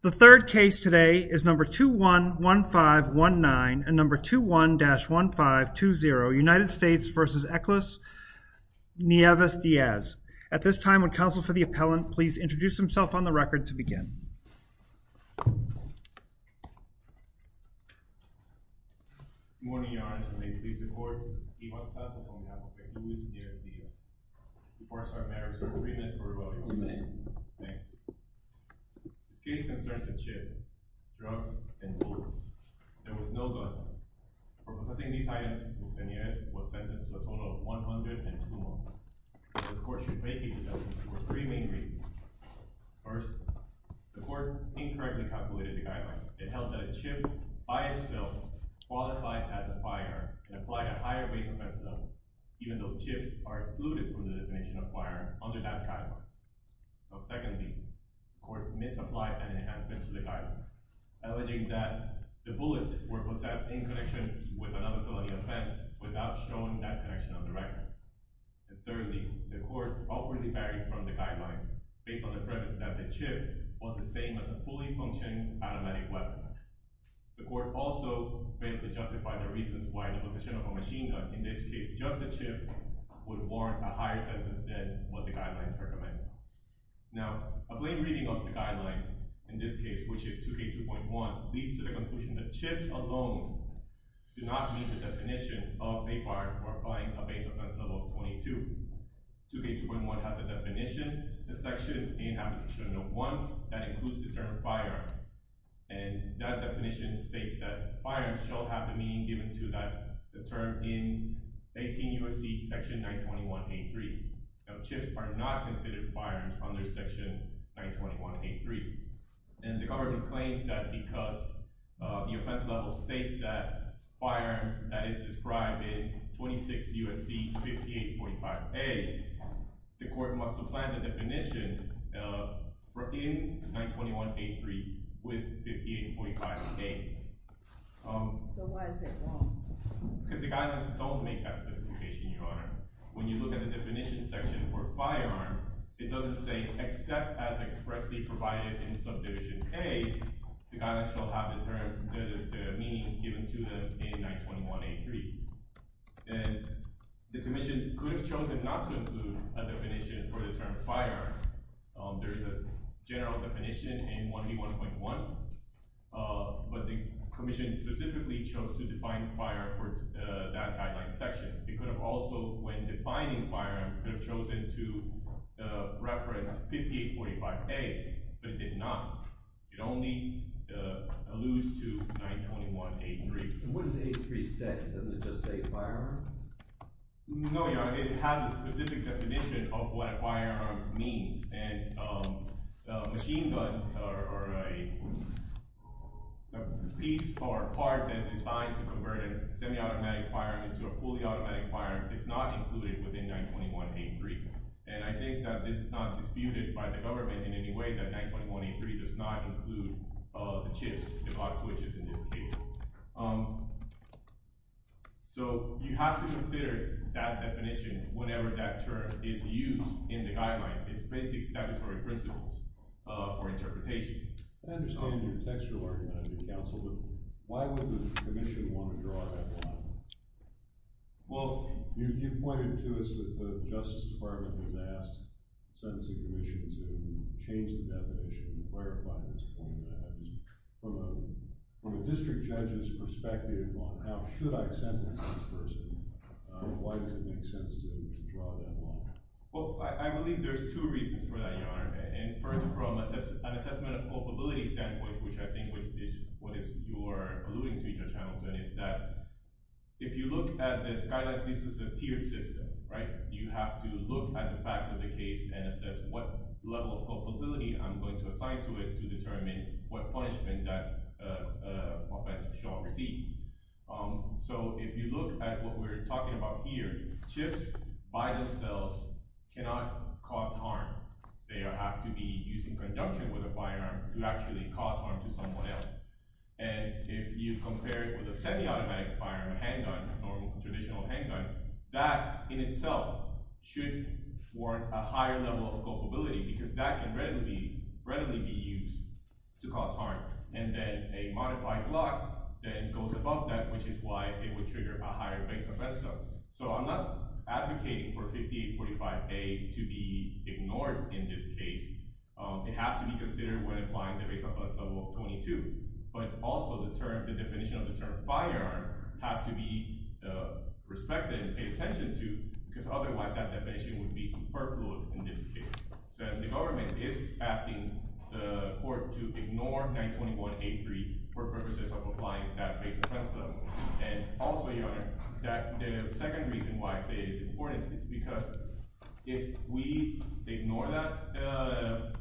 The third case today is No. 21-1519 and No. 21-1520 United States v. Eclis Nieves-Diaz. At this time, would counsel for the appellant please introduce himself on the record to begin. Good morning, Your Honor. May it please the Court, Iwan Sato is on behalf of the accused, Nieves-Diaz. Before I start matters, may I ask for your remit for revoking? You may. Thank you. This case concerns a chip, drugs, and bullets. There was no gun. For possessing these items, Nieves-Diaz was sentenced to a total of one hundred and two months. This court should make these assumptions for three main reasons. First, the court incorrectly calculated the guidelines. It held that a chip by itself qualified as a firearm and applied a higher base offense level, even though chips are excluded from the definition of firearm under that guideline. Secondly, the court misapplied an enhancement to the guidelines, alleging that the bullets were possessed in connection with another felony offense without showing that connection on the record. Thirdly, the court outwardly varied from the guidelines based on the preface that the chip was the same as a fully functioning automatic weapon. The court also failed to justify the reasons why the possession of a machine gun, in this case just a chip, would warrant a higher sentence than what the guidelines recommend. Now, a plain reading of the guidelines, in this case which is 2K2.1, leads to the conclusion that chips alone do not meet the definition of a firearm or applying a base offense level of 22. 2K2.1 has a definition, a section in Abolition No. 1 that includes the term firearm, and that definition states that firearms shall have the meaning given to that term in 18 U.S.C. section 921.83. Now, chips are not considered firearms under section 921.83, and the government claims that because the offense level states that firearms, that is described in 26 U.S.C. 58.5a, the court must apply the definition in 921.83 with 58.5a. So why is it wrong? Because the guidelines don't make that specification, Your Honor. When you look at the definition section for firearm, it doesn't say except as expressly provided in subdivision a, the guidelines shall have the term, the meaning given to it in 921.83. And the commission could have chosen not to include a definition for the term firearm. There is a general definition in 181.1, but the commission specifically chose to define firearm for that guideline section. It could have also, when defining firearm, could have chosen to reference 58.5a, but it did not. It only alludes to 921.83. And what does 8.3 say? Doesn't it just say firearm? No, Your Honor. It has a specific definition of what firearm means, and a machine gun or a piece or part that is designed to convert a semi-automatic firearm into a fully automatic firearm is not included within 921.83. And I think that this is not disputed by the government in any way, that 921.83 does not include the chips, the box switches in this case. So you have to consider that definition, whatever that term is used in the guideline. It's basic statutory principles for interpretation. I understand your textual argument, counsel, but why would the commission want to draw that line? Well, you pointed to us that the Justice Department had asked the Sentencing Commission to change the definition and clarify this format. From a district judge's perspective on how should I sentence this person, why does it make sense to draw that line? Well, I believe there's two reasons for that, Your Honor. And first, from an assessment of culpability standpoint, which I think is what you're alluding to, Judge Hamilton, is that if you look at the Skylights, this is a tiered system, right? You have to look at the facts of the case and assess what level of culpability I'm going to assign to it to determine what punishment that offence shall receive. So if you look at what we're talking about here, chips by themselves cannot cause harm. They have to be used in conjunction with a firearm to actually cause harm to someone else. And if you compare it with a semi-automatic firearm, a handgun, a normal traditional handgun, that in itself should warrant a higher level of culpability because that can readily be used to cause harm. And then a modified block then goes above that, which is why it would trigger a higher base offence. So I'm not advocating for 5845A to be ignored in this case. It has to be considered when applying the base offence level 22. But also the definition of the term firearm has to be respected and paid attention to because otherwise that definition would be superfluous in this case. So the government is asking the court to ignore 921A3 for purposes of applying that base offence level. And also, Your Honor, the second reason why I say it is important is because if we ignore that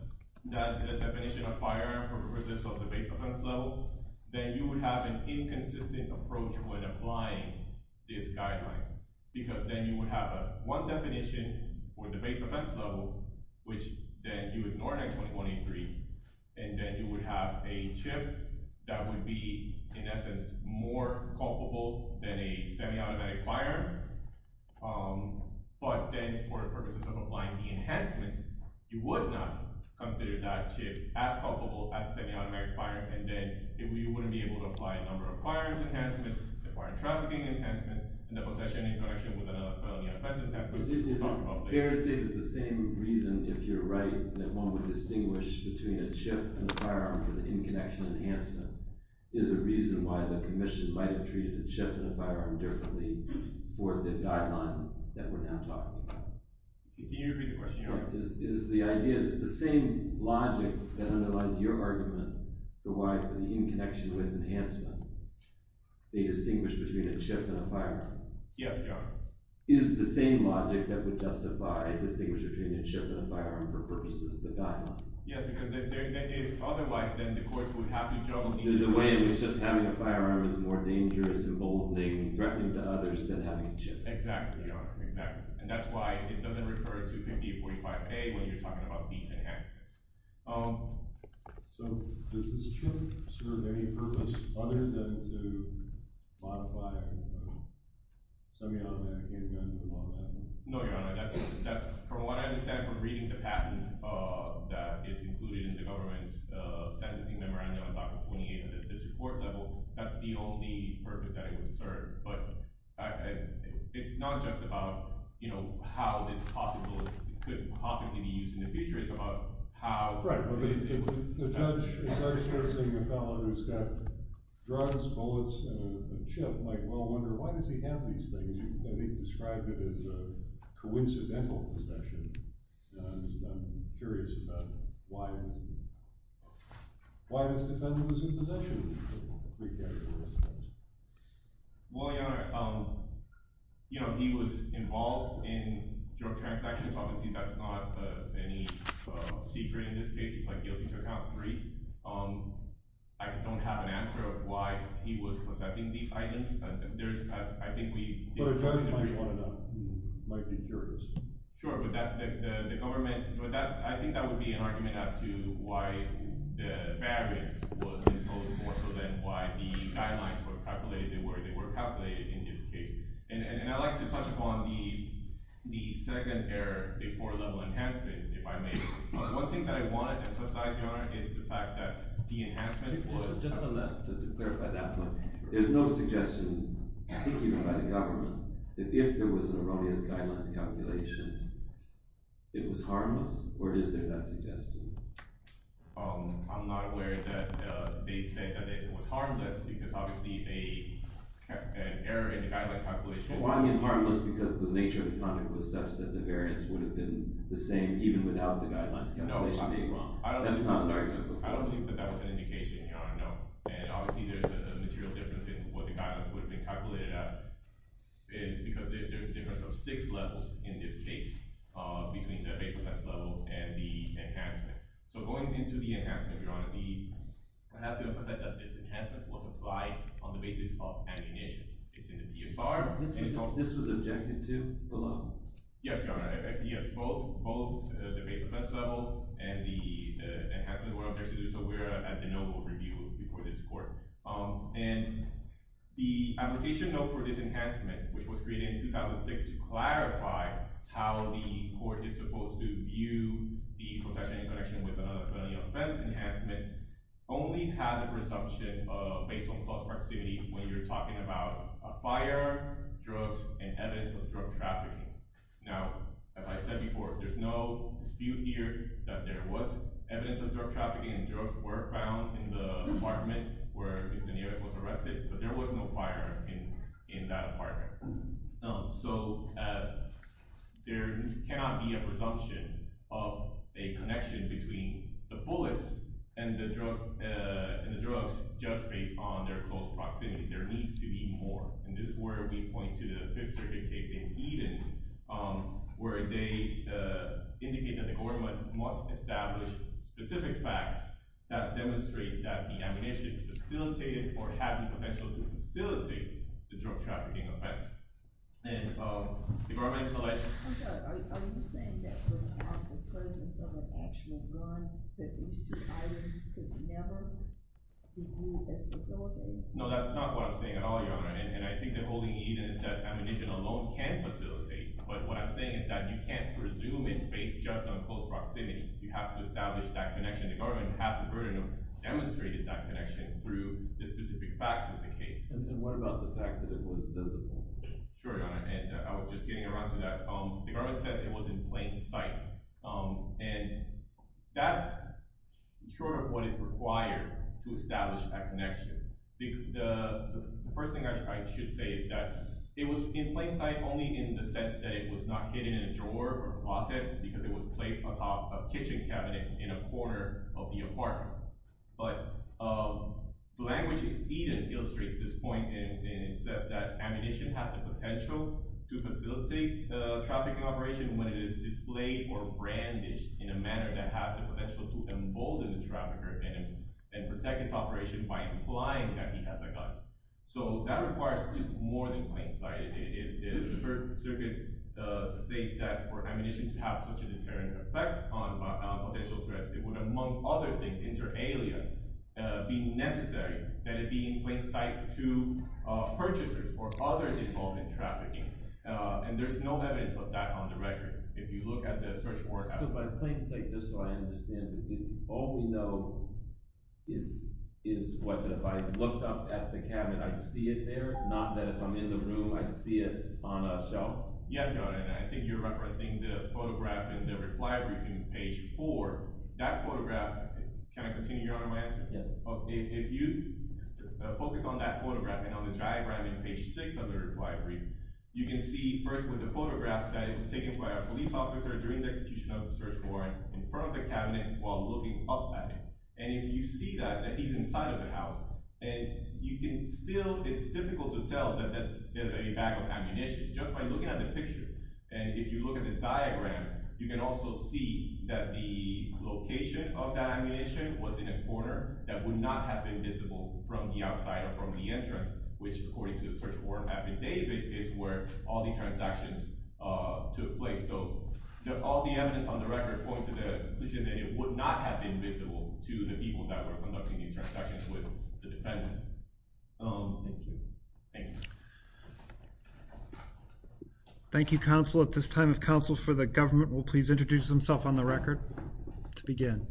definition of firearm for purposes of the base offence level, then you would have an inconsistent approach when applying this guideline. Because then you would have one definition for the base offence level, which then you ignore 921A3, and then you would have a chip that would be, in essence, more culpable than a semi-automatic firearm. But then for the purposes of applying the enhancements, you would not consider that chip as culpable as a semi-automatic firearm. And then you wouldn't be able to apply a number of firearms enhancements, the firearm trafficking enhancements, and the possession in connection with another felony offence attempt. It's embarrassing that the same reason, if you're right, that one would distinguish between a chip and a firearm for the in-connection enhancement is a reason why the commission might have treated a chip and a firearm differently for the guideline that we're now talking about. Can you repeat the question, Your Honor? Is the idea that the same logic that underlies your argument, the why for the in-connection with enhancement, they distinguish between a chip and a firearm? Yes, Your Honor. Is the same logic that would justify a distinguish between a chip and a firearm for purposes of the guideline? Yes, because if otherwise, then the court would have to judge— So there's a way in which just having a firearm is more dangerous, emboldening, and threatening to others than having a chip. Exactly, Your Honor. Exactly. And that's why it doesn't refer to Pen B-45A when you're talking about these enhancements. So does this chip serve any purpose other than to modify a semi-automatic handgun? No, Your Honor. From what I understand from reading the patent that is included in the government's sentencing memorandum on Article 28 at this court level, that's the only purpose that it would serve. But it's not just about, you know, how this could possibly be used in the future. It's about how— Right, but it was— The judge starts saying, a fellow who's got drugs, bullets, and a chip might well wonder, why does he have these things? He described it as a coincidental possession. I'm curious about why this defendant was in possession of these three categories of items. Well, Your Honor, you know, he was involved in drug transactions. Obviously, that's not any secret in this case. He played guilty to Account 3. I don't have an answer of why he was possessing these items. There's—I think we— But a judge might want to know. He might be curious. Sure, but that—the government—but that—I think that would be an argument as to why the variance was imposed more so than why the guidelines were calculated, they were calculated in this case. And I'd like to touch upon the second error, the four-level enhancement, if I may. One thing that I want to emphasize, Your Honor, is the fact that the enhancement was— Just on that, to clarify that one. There's no suggestion, even by the government, that if there was an erroneous guidelines calculation, it was harmless, or is there that suggestion? I'm not aware that they'd say that it was harmless because, obviously, an error in the guidelines calculation— Well, I mean harmless because the nature of the conduct was such that the variance would have been the same even without the guidelines calculation being wrong. No, I'm not— That's not an argument. I don't think that that was an indication, Your Honor, no. And obviously, there's a material difference in what the guidelines would have been calculated as because there's a difference of six levels in this case between the base offense level and the enhancement. So going into the enhancement, Your Honor, we have to emphasize that this enhancement was applied on the basis of ammunition. It's in the PSR— This was objected to below. Yes, Your Honor. Yes, both the base offense level and the enhancement were objected to, so we're at the noble review before this court. And the application note for this enhancement, which was created in 2006 to clarify how the court is supposed to view the possession in connection with another felony offense enhancement, only has a presumption based on close proximity when you're talking about a fire, drugs, and evidence of drug trafficking. Now, as I said before, there's no dispute here that there was evidence of drug trafficking. Drugs were found in the apartment where Iznayel was arrested, but there was no fire in that apartment. So there cannot be a presumption of a connection between the bullets and the drugs just based on their close proximity. There needs to be more. And this is where we point to the Fifth Circuit case in Eden, where they indicate that the government must establish specific facts that demonstrate that the ammunition facilitated or had the potential to facilitate the drug trafficking offense. And the government— I'm sorry, are you saying that without the presence of an actual gun, that these two items could never be ruled as facilitated? No, that's not what I'm saying at all, Your Honor, and I think that holding Eden is that ammunition alone can facilitate, but what I'm saying is that you can't presume it based just on close proximity. You have to establish that connection. The government has the burden of demonstrating that connection through the specific facts of the case. And what about the fact that it was visible? Sure, Your Honor, and I was just getting around to that. The government says it was in plain sight, and that's short of what is required to establish that connection. The first thing I should say is that it was in plain sight only in the sense that it was not hidden in a drawer or a closet because it was placed on top of a kitchen cabinet in a corner of the apartment. But the language in Eden illustrates this point, and it says that ammunition has the potential to facilitate the trafficking operation when it is displayed or brandished in a manner that has the potential to embolden the trafficker and protect his operation by implying that he has a gun. So that requires just more than plain sight. The Third Circuit states that for ammunition to have such a deterrent effect on potential threats, it would, among other things, inter-alien, be necessary that it be in plain sight to purchasers or others involved in trafficking. And there's no evidence of that on the record. If you look at the search warrant… So by plain sight, that's how I understand it. All we know is whether if I looked up at the cabinet, I'd see it there, not that if I'm in the room, I'd see it on a shelf? Yes, Your Honor, and I think you're referencing the photograph in the reply briefing, page 4. That photograph… Can I continue, Your Honor, my answer? Yes. If you focus on that photograph and on the diagram in page 6 of the reply briefing, you can see first with the photograph that it was taken by a police officer during the execution of the search warrant in front of the cabinet while looking up at it. And if you see that, that he's inside of the house, and you can still… It's difficult to tell that that's a bag of ammunition just by looking at the picture. And if you look at the diagram, you can also see that the location of that ammunition was in a corner that would not have been visible from the outside or from the entrance, which, according to the search warrant affidavit, is where all the transactions took place. So all the evidence on the record points to the conclusion that it would not have been visible to the people that were conducting these transactions with the defendant. Thank you. Thank you. Thank you, counsel. At this time, if counsel for the government will please introduce himself on the record to begin.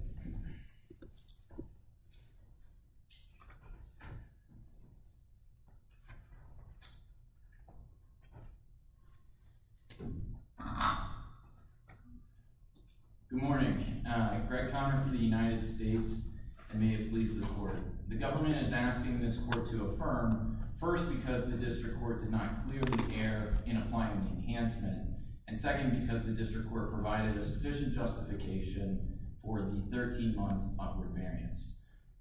Good morning. Greg Conner for the United States, and may it please the Court. The government is asking this Court to affirm, first, because the district court did not clearly care in applying the enhancement, and second, because the district court provided a sufficient justification for the 13-month upward variance.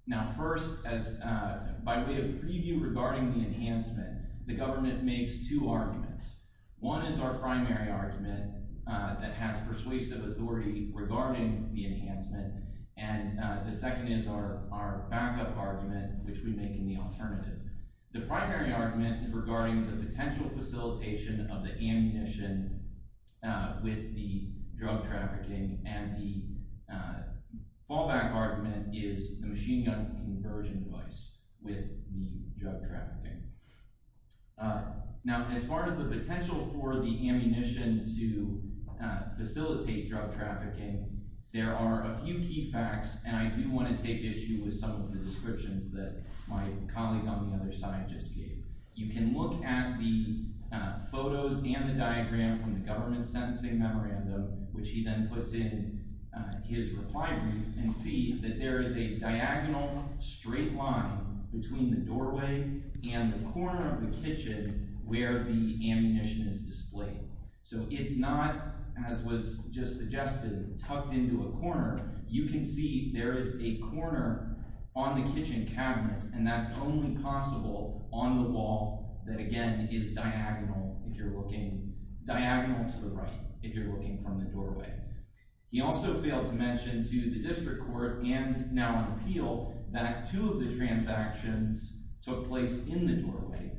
Now, first, by way of preview regarding the enhancement, the government makes two arguments. One is our primary argument that has persuasive authority regarding the enhancement, and the second is our backup argument, which we make in the alternative. The primary argument is regarding the potential facilitation of the ammunition with the drug trafficking, and the fallback argument is the machine gun conversion device with the drug trafficking. Now, as far as the potential for the ammunition to facilitate drug trafficking, there are a few key facts, and I do want to take issue with some of the descriptions that my colleague on the other side just gave. You can look at the photos and the diagram from the government's sentencing memorandum, which he then puts in his reply brief, and see that there is a diagonal straight line between the doorway and the corner of the kitchen where the ammunition is displayed. So it's not, as was just suggested, tucked into a corner. You can see there is a corner on the kitchen cabinet, and that's only possible on the wall that, again, is diagonal to the right if you're looking from the doorway. He also failed to mention to the district court and now an appeal that two of the transactions took place in the doorway,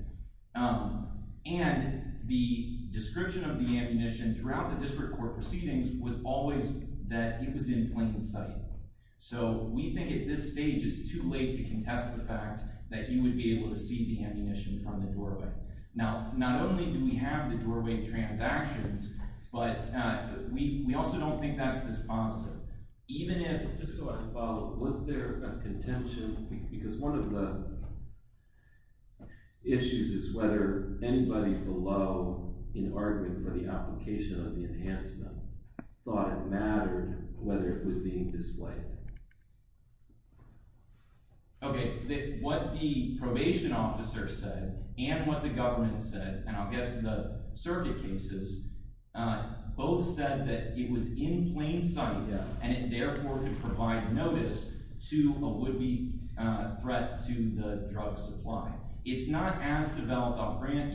and the description of the ammunition throughout the district court proceedings was always that it was in plain sight. So we think at this stage it's too late to contest the fact that you would be able to see the ammunition from the doorway. Now, not only do we have the doorway transactions, but we also don't think that's dispositive. Just so I follow, was there a contention? Because one of the issues is whether anybody below, in the argument for the application of the enhancement, thought it mattered whether it was being displayed. Okay, what the probation officer said and what the government said, and I'll get to the circuit cases, both said that it was in plain sight, and it therefore could provide notice to a would-be threat to the drug supply. It's not as developed off-brand.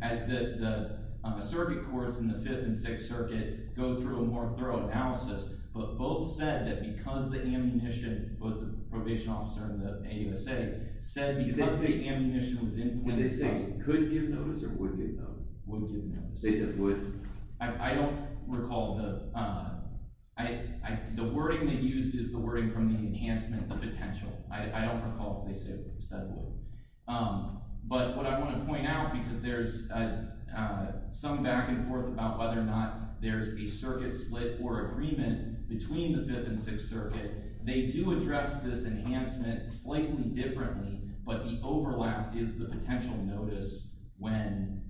The circuit courts in the Fifth and Sixth Circuit go through a more thorough analysis, but both said that because the ammunition, both the probation officer and the AUSA, said because the ammunition was in plain sight… Did they say it could give notice or would give notice? Would give notice. They said would. I don't recall. The wording they used is the wording from the enhancement, the potential. I don't recall if they said would. But what I want to point out, because there's some back and forth about whether or not there's a circuit split or agreement between the Fifth and Sixth Circuit, they do address this enhancement slightly differently, but the overlap is the potential notice when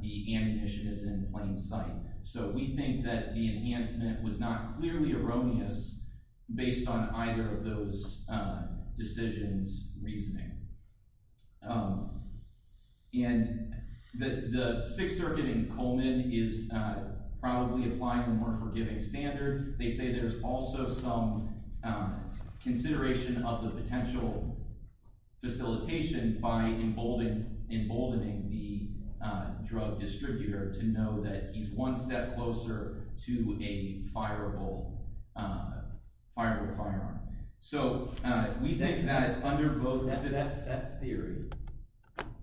the ammunition is in plain sight. So we think that the enhancement was not clearly erroneous based on either of those decisions' reasoning. And the Sixth Circuit in Coleman is probably applying a more forgiving standard. They say there's also some consideration of the potential facilitation by emboldening the drug distributor to know that he's one step closer to a fireable firearm. So we think that it's under both… That theory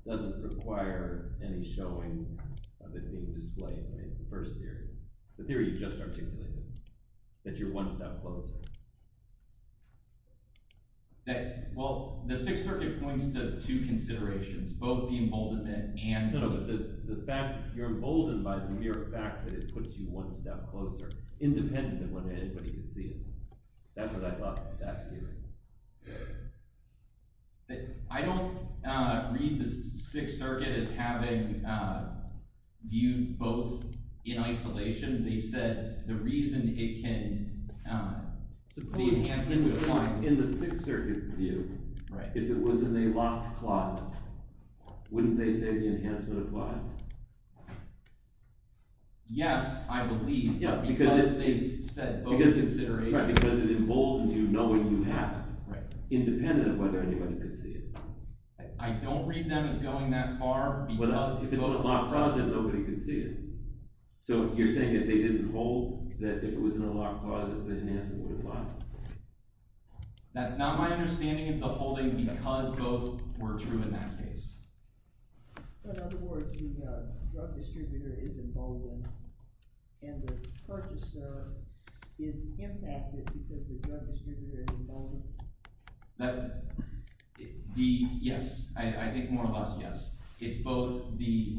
doesn't require any showing of it being displayed, the first theory. The theory you just articulated, that you're one step closer. Well, the Sixth Circuit points to two considerations, both the emboldenment and… No, the fact that you're emboldened by the mere fact that it puts you one step closer, independent of whether anybody can see it. That's what I thought that theory was. I don't read the Sixth Circuit as having viewed both in isolation. They said the reason it can… Suppose in the Sixth Circuit view, if it was in a locked closet, wouldn't they say the enhancement applies? Yes, I believe, because they said both considerations… Because it emboldens you, knowing you have it, independent of whether anybody can see it. I don't read them as going that far, because… If it's in a locked closet, nobody can see it. So you're saying if they didn't hold, that if it was in a locked closet, the enhancement would apply? That's not my understanding of the holding, because both were true in that case. So in other words, the drug distributor is emboldened, and the purchaser is impacted because the drug distributor is emboldened? Yes. I think more or less yes. It's both the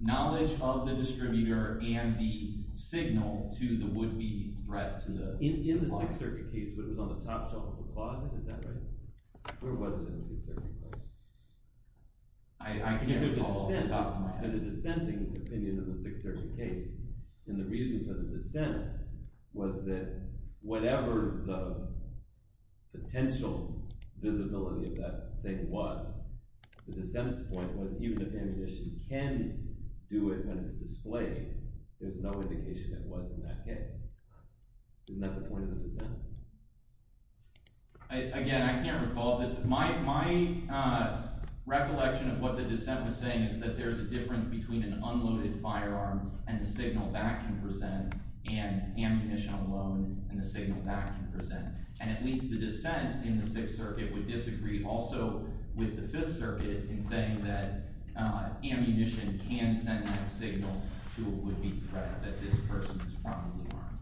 knowledge of the distributor and the signal to the would-be threat to the supply. In the Sixth Circuit case, but it was on the top shelf of the closet. Is that right? Where was it in the Sixth Circuit case? There's a dissenting opinion in the Sixth Circuit case, and the reason for the dissent was that whatever the potential visibility of that thing was, the dissent's point was even if ammunition can do it when it's displayed, there's no indication it was in that case. Isn't that the point of the dissent? Again, I can't recall this. My recollection of what the dissent was saying is that there's a difference between an unloaded firearm and the signal that can present, and ammunition alone and the signal that can present. And at least the dissent in the Sixth Circuit would disagree also with the Fifth Circuit in saying that ammunition can send that signal to a would-be threat that this person is probably armed.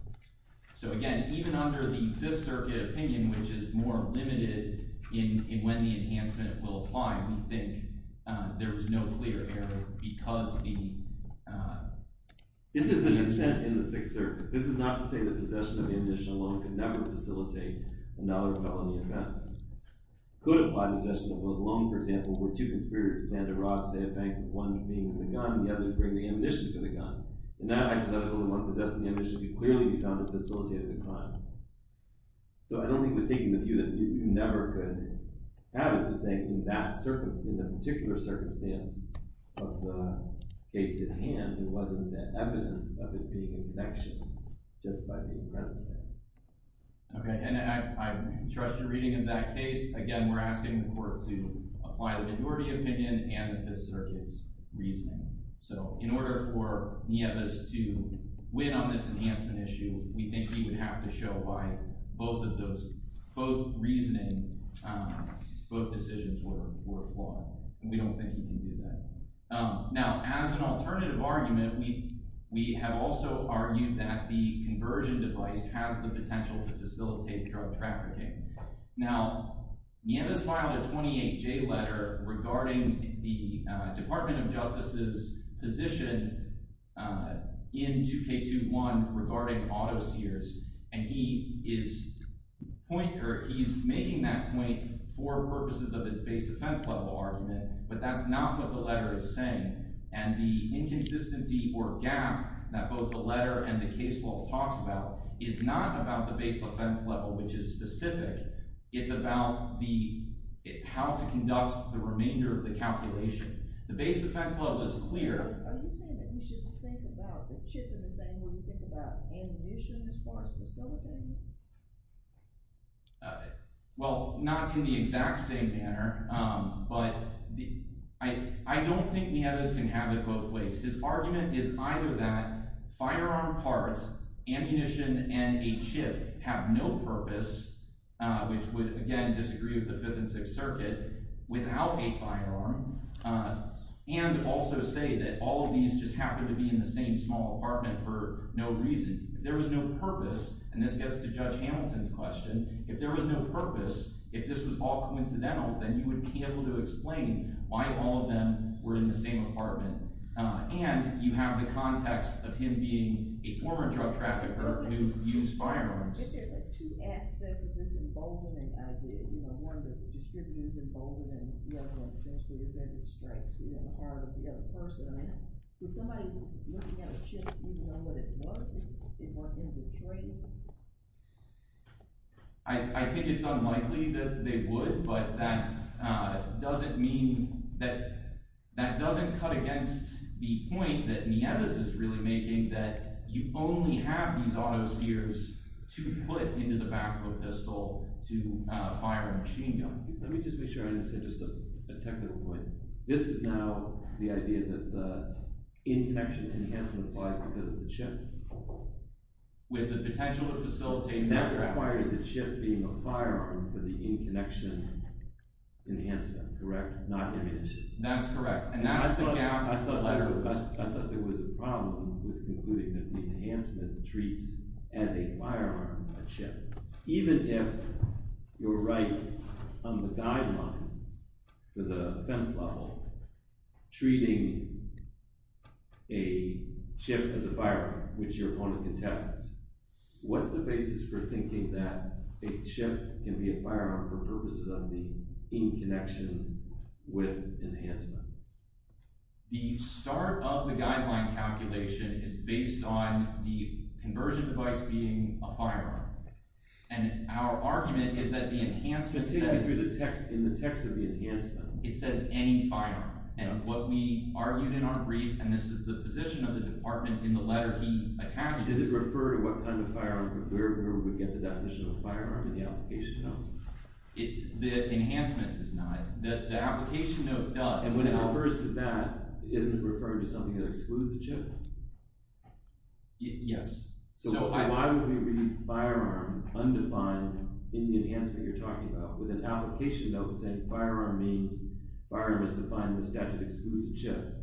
So again, even under the Fifth Circuit opinion, which is more limited in when the enhancement will apply, we think there was no clear error because the… This is the dissent in the Sixth Circuit. This is not to say that possession of ammunition alone could never facilitate another felony offense. It could apply to possession of a loan, for example, where two conspirators plan to rob, say, a bank with one being the gun and the other bringing ammunition for the gun. In that hypothetical, the one possessing the ammunition could clearly be found to facilitate the crime. So I don't think we're taking the view that you never could have it the same in that particular circumstance of the case at hand. It wasn't the evidence of it being a connection just by being present there. Okay, and I trust your reading of that case. Again, we're asking the court to apply the majority opinion and the Fifth Circuit's reasoning. So in order for Nieves to win on this enhancement issue, we think he would have to show by both of those – both reasoning, both decisions were flawed. And we don't think he can do that. Now, as an alternative argument, we have also argued that the conversion device has the potential to facilitate drug trafficking. Now, Nieves filed a 28-J letter regarding the Department of Justice's position in 2K21 regarding auto sears. And he is making that point for purposes of his base offense level argument, but that's not what the letter is saying. And the inconsistency or gap that both the letter and the case law talks about is not about the base offense level, which is specific. It's about the – how to conduct the remainder of the calculation. The base offense level is clear. Are you saying that we should think about the chip in the sand when we think about ammunition as far as facilitating? Well, not in the exact same manner, but I don't think Nieves can have it both ways. His argument is either that firearm parts, ammunition, and a chip have no purpose, which would, again, disagree with the Fifth and Sixth Circuit, without a firearm, and also say that all of these just happen to be in the same small apartment for no reason. If there was no purpose – and this gets to Judge Hamilton's question – if there was no purpose, if this was all coincidental, then you wouldn't be able to explain why all of them were in the same apartment. And you have the context of him being a former drug trafficker who used firearms. But there are two aspects of this emboldenment idea. One of the distributors emboldened and the other one essentially said it strikes the heart of the other person. Would somebody looking at a chip even know what it was if it weren't in Detroit? I think it's unlikely that they would, but that doesn't cut against the point that Nieves is really making, that you only have these auto-sears to put into the back of a pistol to fire a machine gun. Let me just make sure I understand just a technical point. This is now the idea that the in-connection enhancement applies because of the chip. With the potential to facilitate – That requires the chip being a firearm for the in-connection enhancement, correct? Not ammunition. That's correct. And that's the gap – I thought there was a problem with concluding that the enhancement treats, as a firearm, a chip. Even if you're right on the guideline for the defense level, treating a chip as a firearm, which your opponent contests, what's the basis for thinking that a chip can be a firearm for purposes of the in-connection with enhancement? The start of the guideline calculation is based on the conversion device being a firearm. And our argument is that the enhancement says – Just take me through the text in the text of the enhancement. It says, any firearm. And what we argued in our brief, and this is the position of the department in the letter he attached – Does it refer to what kind of firearm, where would we get the definition of a firearm in the application note? The enhancement does not. The application note does. And when it refers to that, isn't it referring to something that excludes a chip? Yes. So why would we read firearm, undefined, in the enhancement you're talking about? With an application note saying firearm means, firearm is defined in the statute that excludes a chip,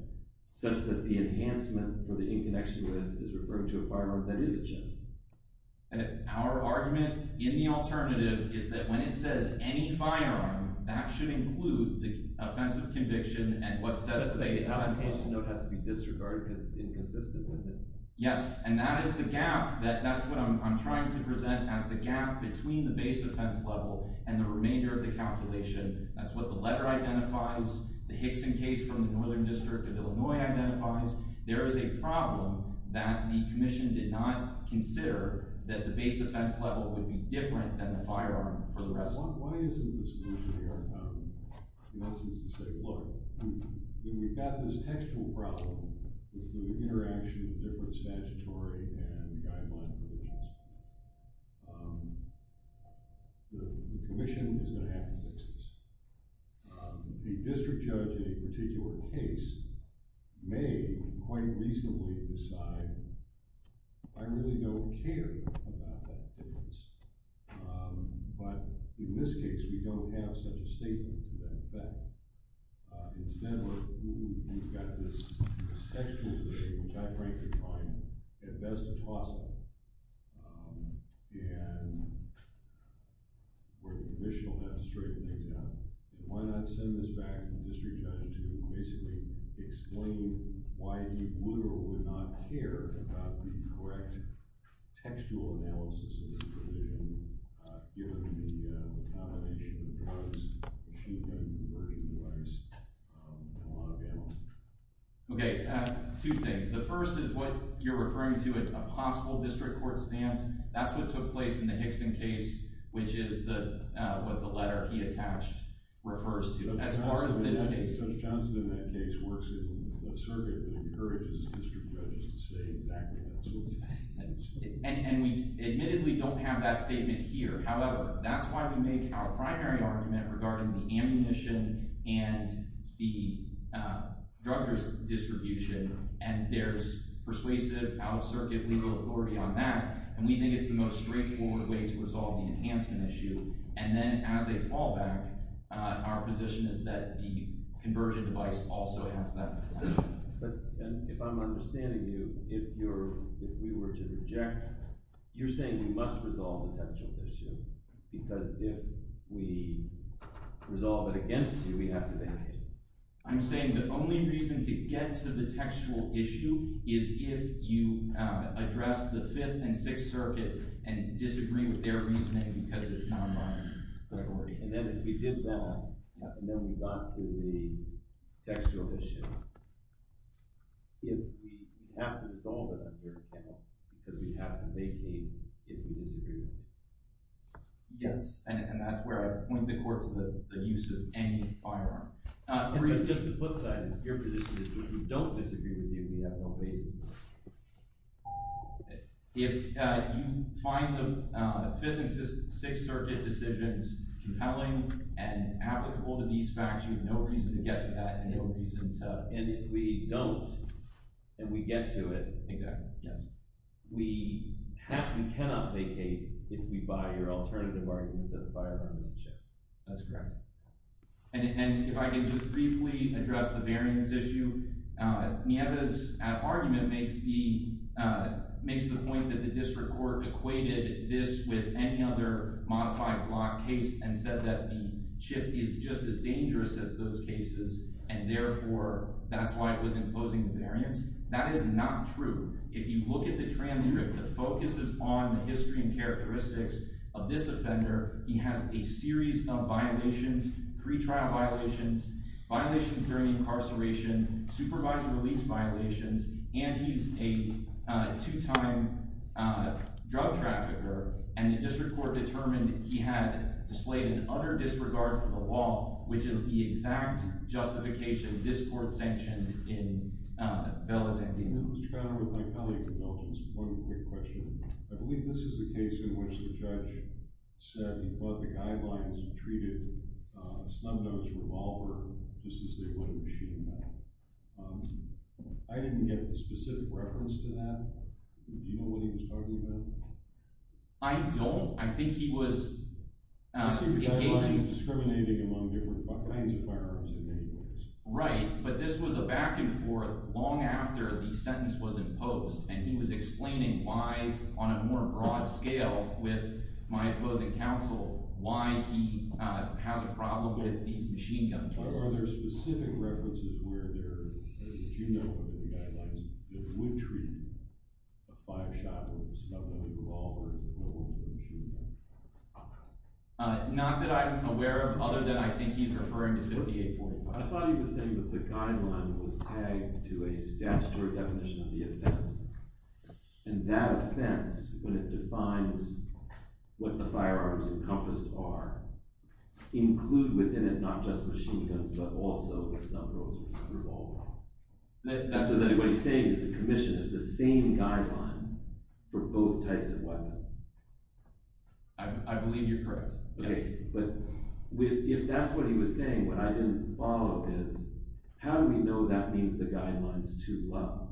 such that the enhancement for the in-connection with is referring to a firearm that is a chip. And our argument in the alternative is that when it says any firearm, that should include the offense of conviction and what sets the base offense level. So the application note has to be disregarded because it's inconsistent with it? Yes, and that is the gap. That's what I'm trying to present as the gap between the base offense level and the remainder of the calculation. That's what the letter identifies, the Hickson case from the Northern District of Illinois identifies. There is a problem that the commission did not consider that the base offense level would be different than the firearm for the rest of the case. Why isn't the solution here? And that seems to say, look, we've got this textual problem with the interaction of different statutory and guideline provisions. The commission is going to have to fix this. The district judge in a particular case may quite reasonably decide, I really don't care about that difference. But in this case, we don't have such a statement to that effect. Instead, we've got this textual thing, which I frankly find at best a toss-up. And the commission will have to straighten things out. Why not send this back to the district judge to basically explain why he would or would not care about the correct textual analysis of this provision, given the combination of the codes, the shooting gun, the conversion device, and a lot of the analysis? Okay, two things. The first is what you're referring to as a possible district court stance. That's what took place in the Hickson case, which is what the letter he attached refers to. As far as this case. Judge Johnson in that case works in a circuit that encourages district judges to say exactly that. And we admittedly don't have that statement here. However, that's why we make our primary argument regarding the ammunition and the drug distribution. And there's persuasive, out-of-circuit legal authority on that, and we think it's the most straightforward way to resolve the enhancement issue. And then as a fallback, our position is that the conversion device also has that potential. But if I'm understanding you, if we were to reject, you're saying we must resolve the textual issue, because if we resolve it against you, we have to vacate. I'm saying the only reason to get to the textual issue is if you address the Fifth and Sixth Circuits and disagree with their reasoning because it's non-binary. And then if we did that, and then we got to the textual issues, if we have to resolve it on your account, because we have to vacate if we disagree with them. Yes, and that's where I point the court to the use of any firearm. Just the flip side of your position is if we don't disagree with you, we have no basis. If you find the Fifth and Sixth Circuit decisions compelling and applicable to these facts, you have no reason to get to that. And if we don't, and we get to it, we cannot vacate if we buy your alternative argument that the firearm is a chip. That's correct. And if I could just briefly address the variance issue. Nieva's argument makes the point that the district court equated this with any other modified block case and said that the chip is just as dangerous as those cases, and therefore, that's why it was imposing the variance. That is not true. If you look at the transcript that focuses on the history and characteristics of this offender, he has a series of violations, pre-trial violations, violations during incarceration, supervisory release violations, and he's a two-time drug trafficker. And the district court determined that he had displayed an utter disregard for the law, which is the exact justification this court sanctioned in Bella's ending. Mr. Conner, with my colleagues indulgence, one quick question. I believe this is the case in which the judge said he thought the guidelines treated a snub-nosed revolver just as they would a machine gun. I didn't get the specific reference to that. Do you know what he was talking about? I don't. I think he was engaging… I assume the guidelines were discriminating among different kinds of firearms in many ways. Right, but this was a back-and-forth long after the sentence was imposed, and he was explaining why, on a more broad scale with my opposing counsel, why he has a problem with these machine gun cases. Are there specific references where there… do you know of any guidelines that would treat a five-shot with a snub-nosed revolver as a machine gun? Not that I'm aware of, other than I think he's referring to 5845. I thought he was saying that the guideline was tagged to a statutory definition of the offense, and that offense, when it defines what the firearms encompassed are, include within it not just machine guns but also snub-nosed revolvers. So what he's saying is the commission is the same guideline for both types of weapons. I believe you're correct. Okay, but if that's what he was saying, what I didn't follow is how do we know that means the guideline is too low?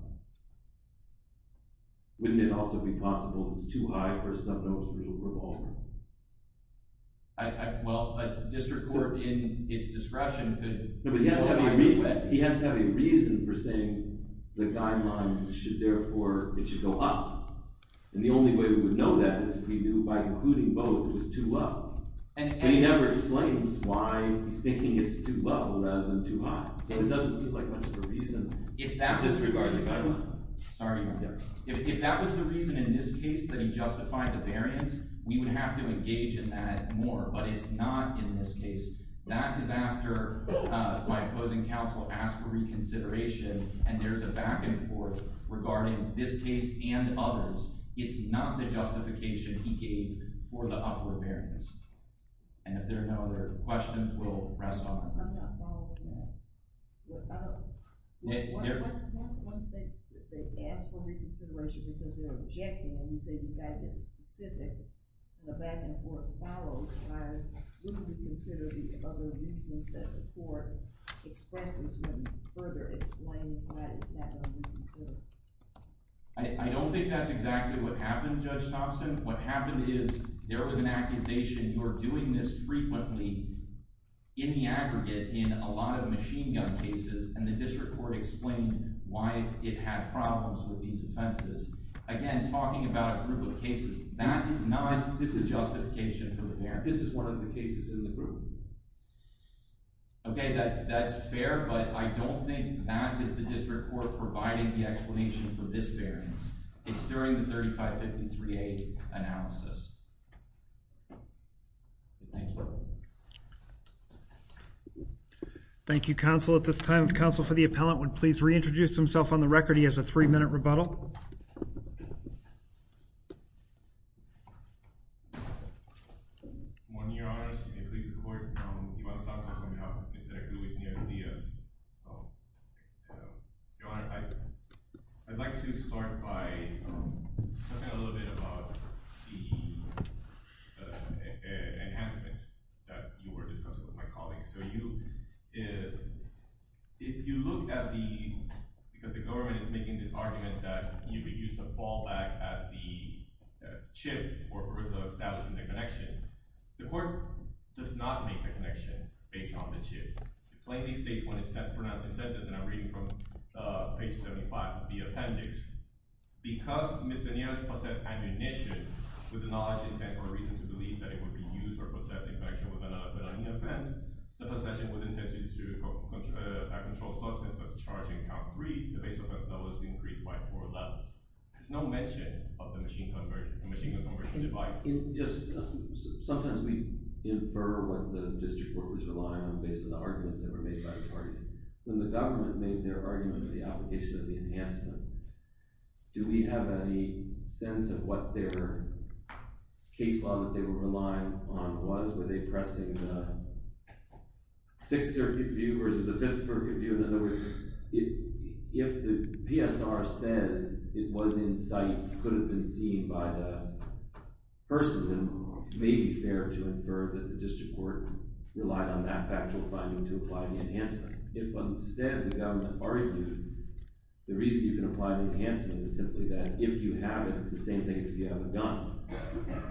Wouldn't it also be possible it's too high for a snub-nosed revolver? Well, a district court in its discretion could… No, but he has to have a reason for saying the guideline should therefore… it should go up. And the only way we would know that is if we knew by including both it was too low. And he never explains why he's thinking it's too low rather than too high. So it doesn't seem like much of a reason, disregarding… If that was the reason in this case that he justified the variance, we would have to engage in that more. But it's not in this case. That is after my opposing counsel asked for reconsideration, and there's a back-and-forth regarding this case and others. It's not the justification he gave for the upward variance. And if there are no other questions, we'll rest on it. I'm not following that. Once they ask for reconsideration because they're objecting and you say the guideline is specific and a back-and-forth follows, why wouldn't we consider the other reasons that the court expresses when you further explain why it's not going to be considered? I don't think that's exactly what happened, Judge Thompson. What happened is there was an accusation. You're doing this frequently in the aggregate in a lot of machine gun cases, and the district court explained why it had problems with these offenses. Again, talking about a group of cases, that is not – this is justification for the variance. This is one of the cases in the group. Okay, that's fair, but I don't think that is the district court providing the explanation for this variance. It's during the 3553A analysis. Thank you. Thank you, counsel. At this time, counsel for the appellant would please reintroduce himself on the record. He has a three-minute rebuttal. Good morning, Your Honor. I'd like to start by discussing a little bit about the enhancement that you were discussing with my colleagues. So if you look at the – because the government is making this argument that you would use the fallback as the chip for establishing the connection. The court does not make the connection based on the chip. It plainly states when it's pronounced in sentence, and I'm reading from page 75 of the appendix. Because Mr. Nieres possessed ammunition with the knowledge, intent, or reason to believe that it would be used or possessed in connection with another felony offense, the possession was intended to be a controlled substance that's charged in count three. The base offense level is increased by four-eleven. There's no mention of the machine gun conversion device. Sometimes we infer what the district court was relying on based on the arguments that were made by the parties. When the government made their argument of the application of the enhancement, do we have any sense of what their case law that they were relying on was? Were they pressing the Sixth Circuit view versus the Fifth Circuit view? In other words, if the PSR says it was in sight, could have been seen by the person, then it may be fair to infer that the district court relied on that factual finding to apply the enhancement. If instead the government argued the reason you can apply the enhancement is simply that if you have it, it's the same thing as if you have a gun,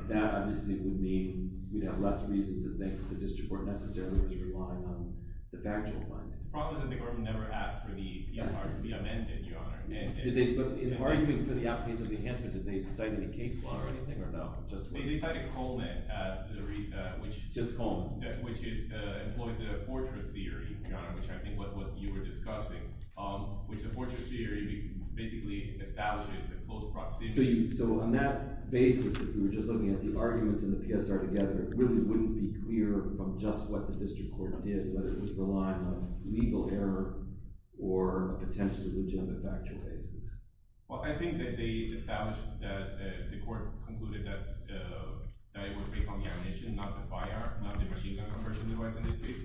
that obviously would mean we'd have less reason to think the district court necessarily was relying on the factual finding. The problem is that the government never asked for the PSR to be amended, Your Honor. But in arguing for the application of the enhancement, did they cite any case law or anything or no? They cited Coleman, which employs the fortress theory, Your Honor, which I think was what you were discussing, which the fortress theory basically establishes a close proximity. So on that basis, if we were just looking at the arguments and the PSR together, it really wouldn't be clear from just what the district court did whether it was relying on legal error or a potentially legitimate factual basis. Well, I think that they established that the court concluded that it was based on the ammunition, not the firearm, not the machine gun conversion device in this case.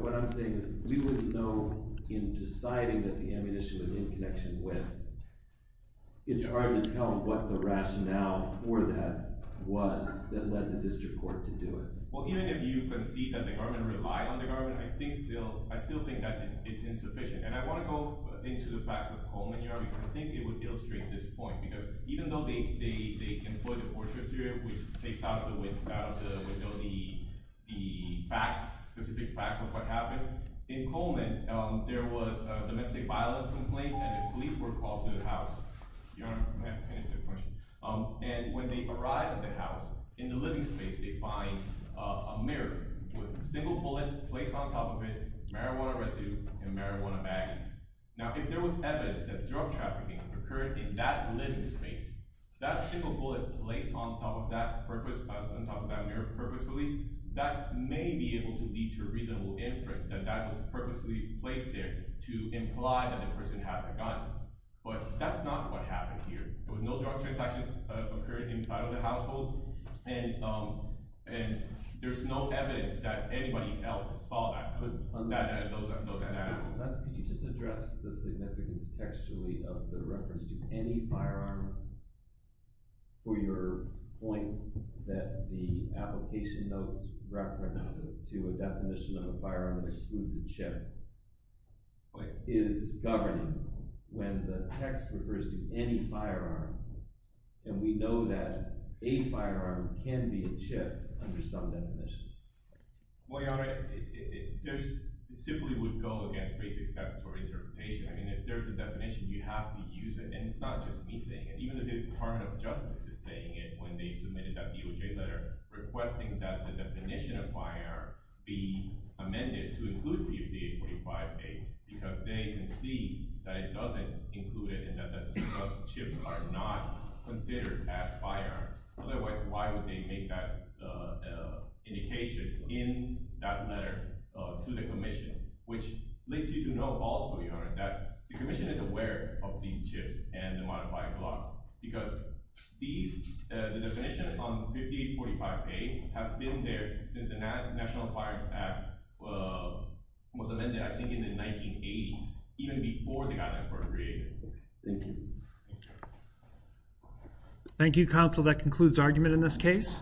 What I'm saying is we wouldn't know in deciding that the ammunition was in connection with it. It's hard to tell what the rationale for that was that led the district court to do it. Well, even if you concede that the government relied on the government, I still think that it's insufficient. And I want to go into the facts of Coleman, Your Honor, because I think it would illustrate this point. Because even though they employ the fortress theory, which takes out of the window the facts, specific facts of what happened, in Coleman there was a domestic violence complaint and the police were called to the house. Your Honor, may I finish the question? And when they arrived at the house, in the living space, they find a mirror with a single bullet placed on top of it, marijuana residue, and marijuana baggies. Now, if there was evidence that drug trafficking occurred in that living space, that single bullet placed on top of that mirror purposefully, that may be able to lead to a reasonable inference that that was purposefully placed there to imply that the person has a gun. But that's not what happened here. There was no drug transaction occurring inside of the household, and there's no evidence that anybody else saw that. Could you just address the significance textually of the reference to any firearm? For your point that the application notes reference to a definition of a firearm as an exclusive chip is governing when the text refers to any firearm. And we know that a firearm can be a chip under some definition. Well, Your Honor, it simply would go against basic statutory interpretation. I mean, if there's a definition, you have to use it. And it's not just me saying it. Even the Department of Justice is saying it when they submitted that DOJ letter requesting that the definition of firearm be amended to include the FDA 45A because they can see that it doesn't include it and that those chips are not considered as firearms. Otherwise, why would they make that indication in that letter to the commission? Which leads you to know also, Your Honor, that the commission is aware of these chips and the modified blocks because the definition on 5845A has been there since the National Firearms Act was amended, I think, in the 1980s, even before the gun was created. Thank you. Thank you, counsel. That concludes argument in this case.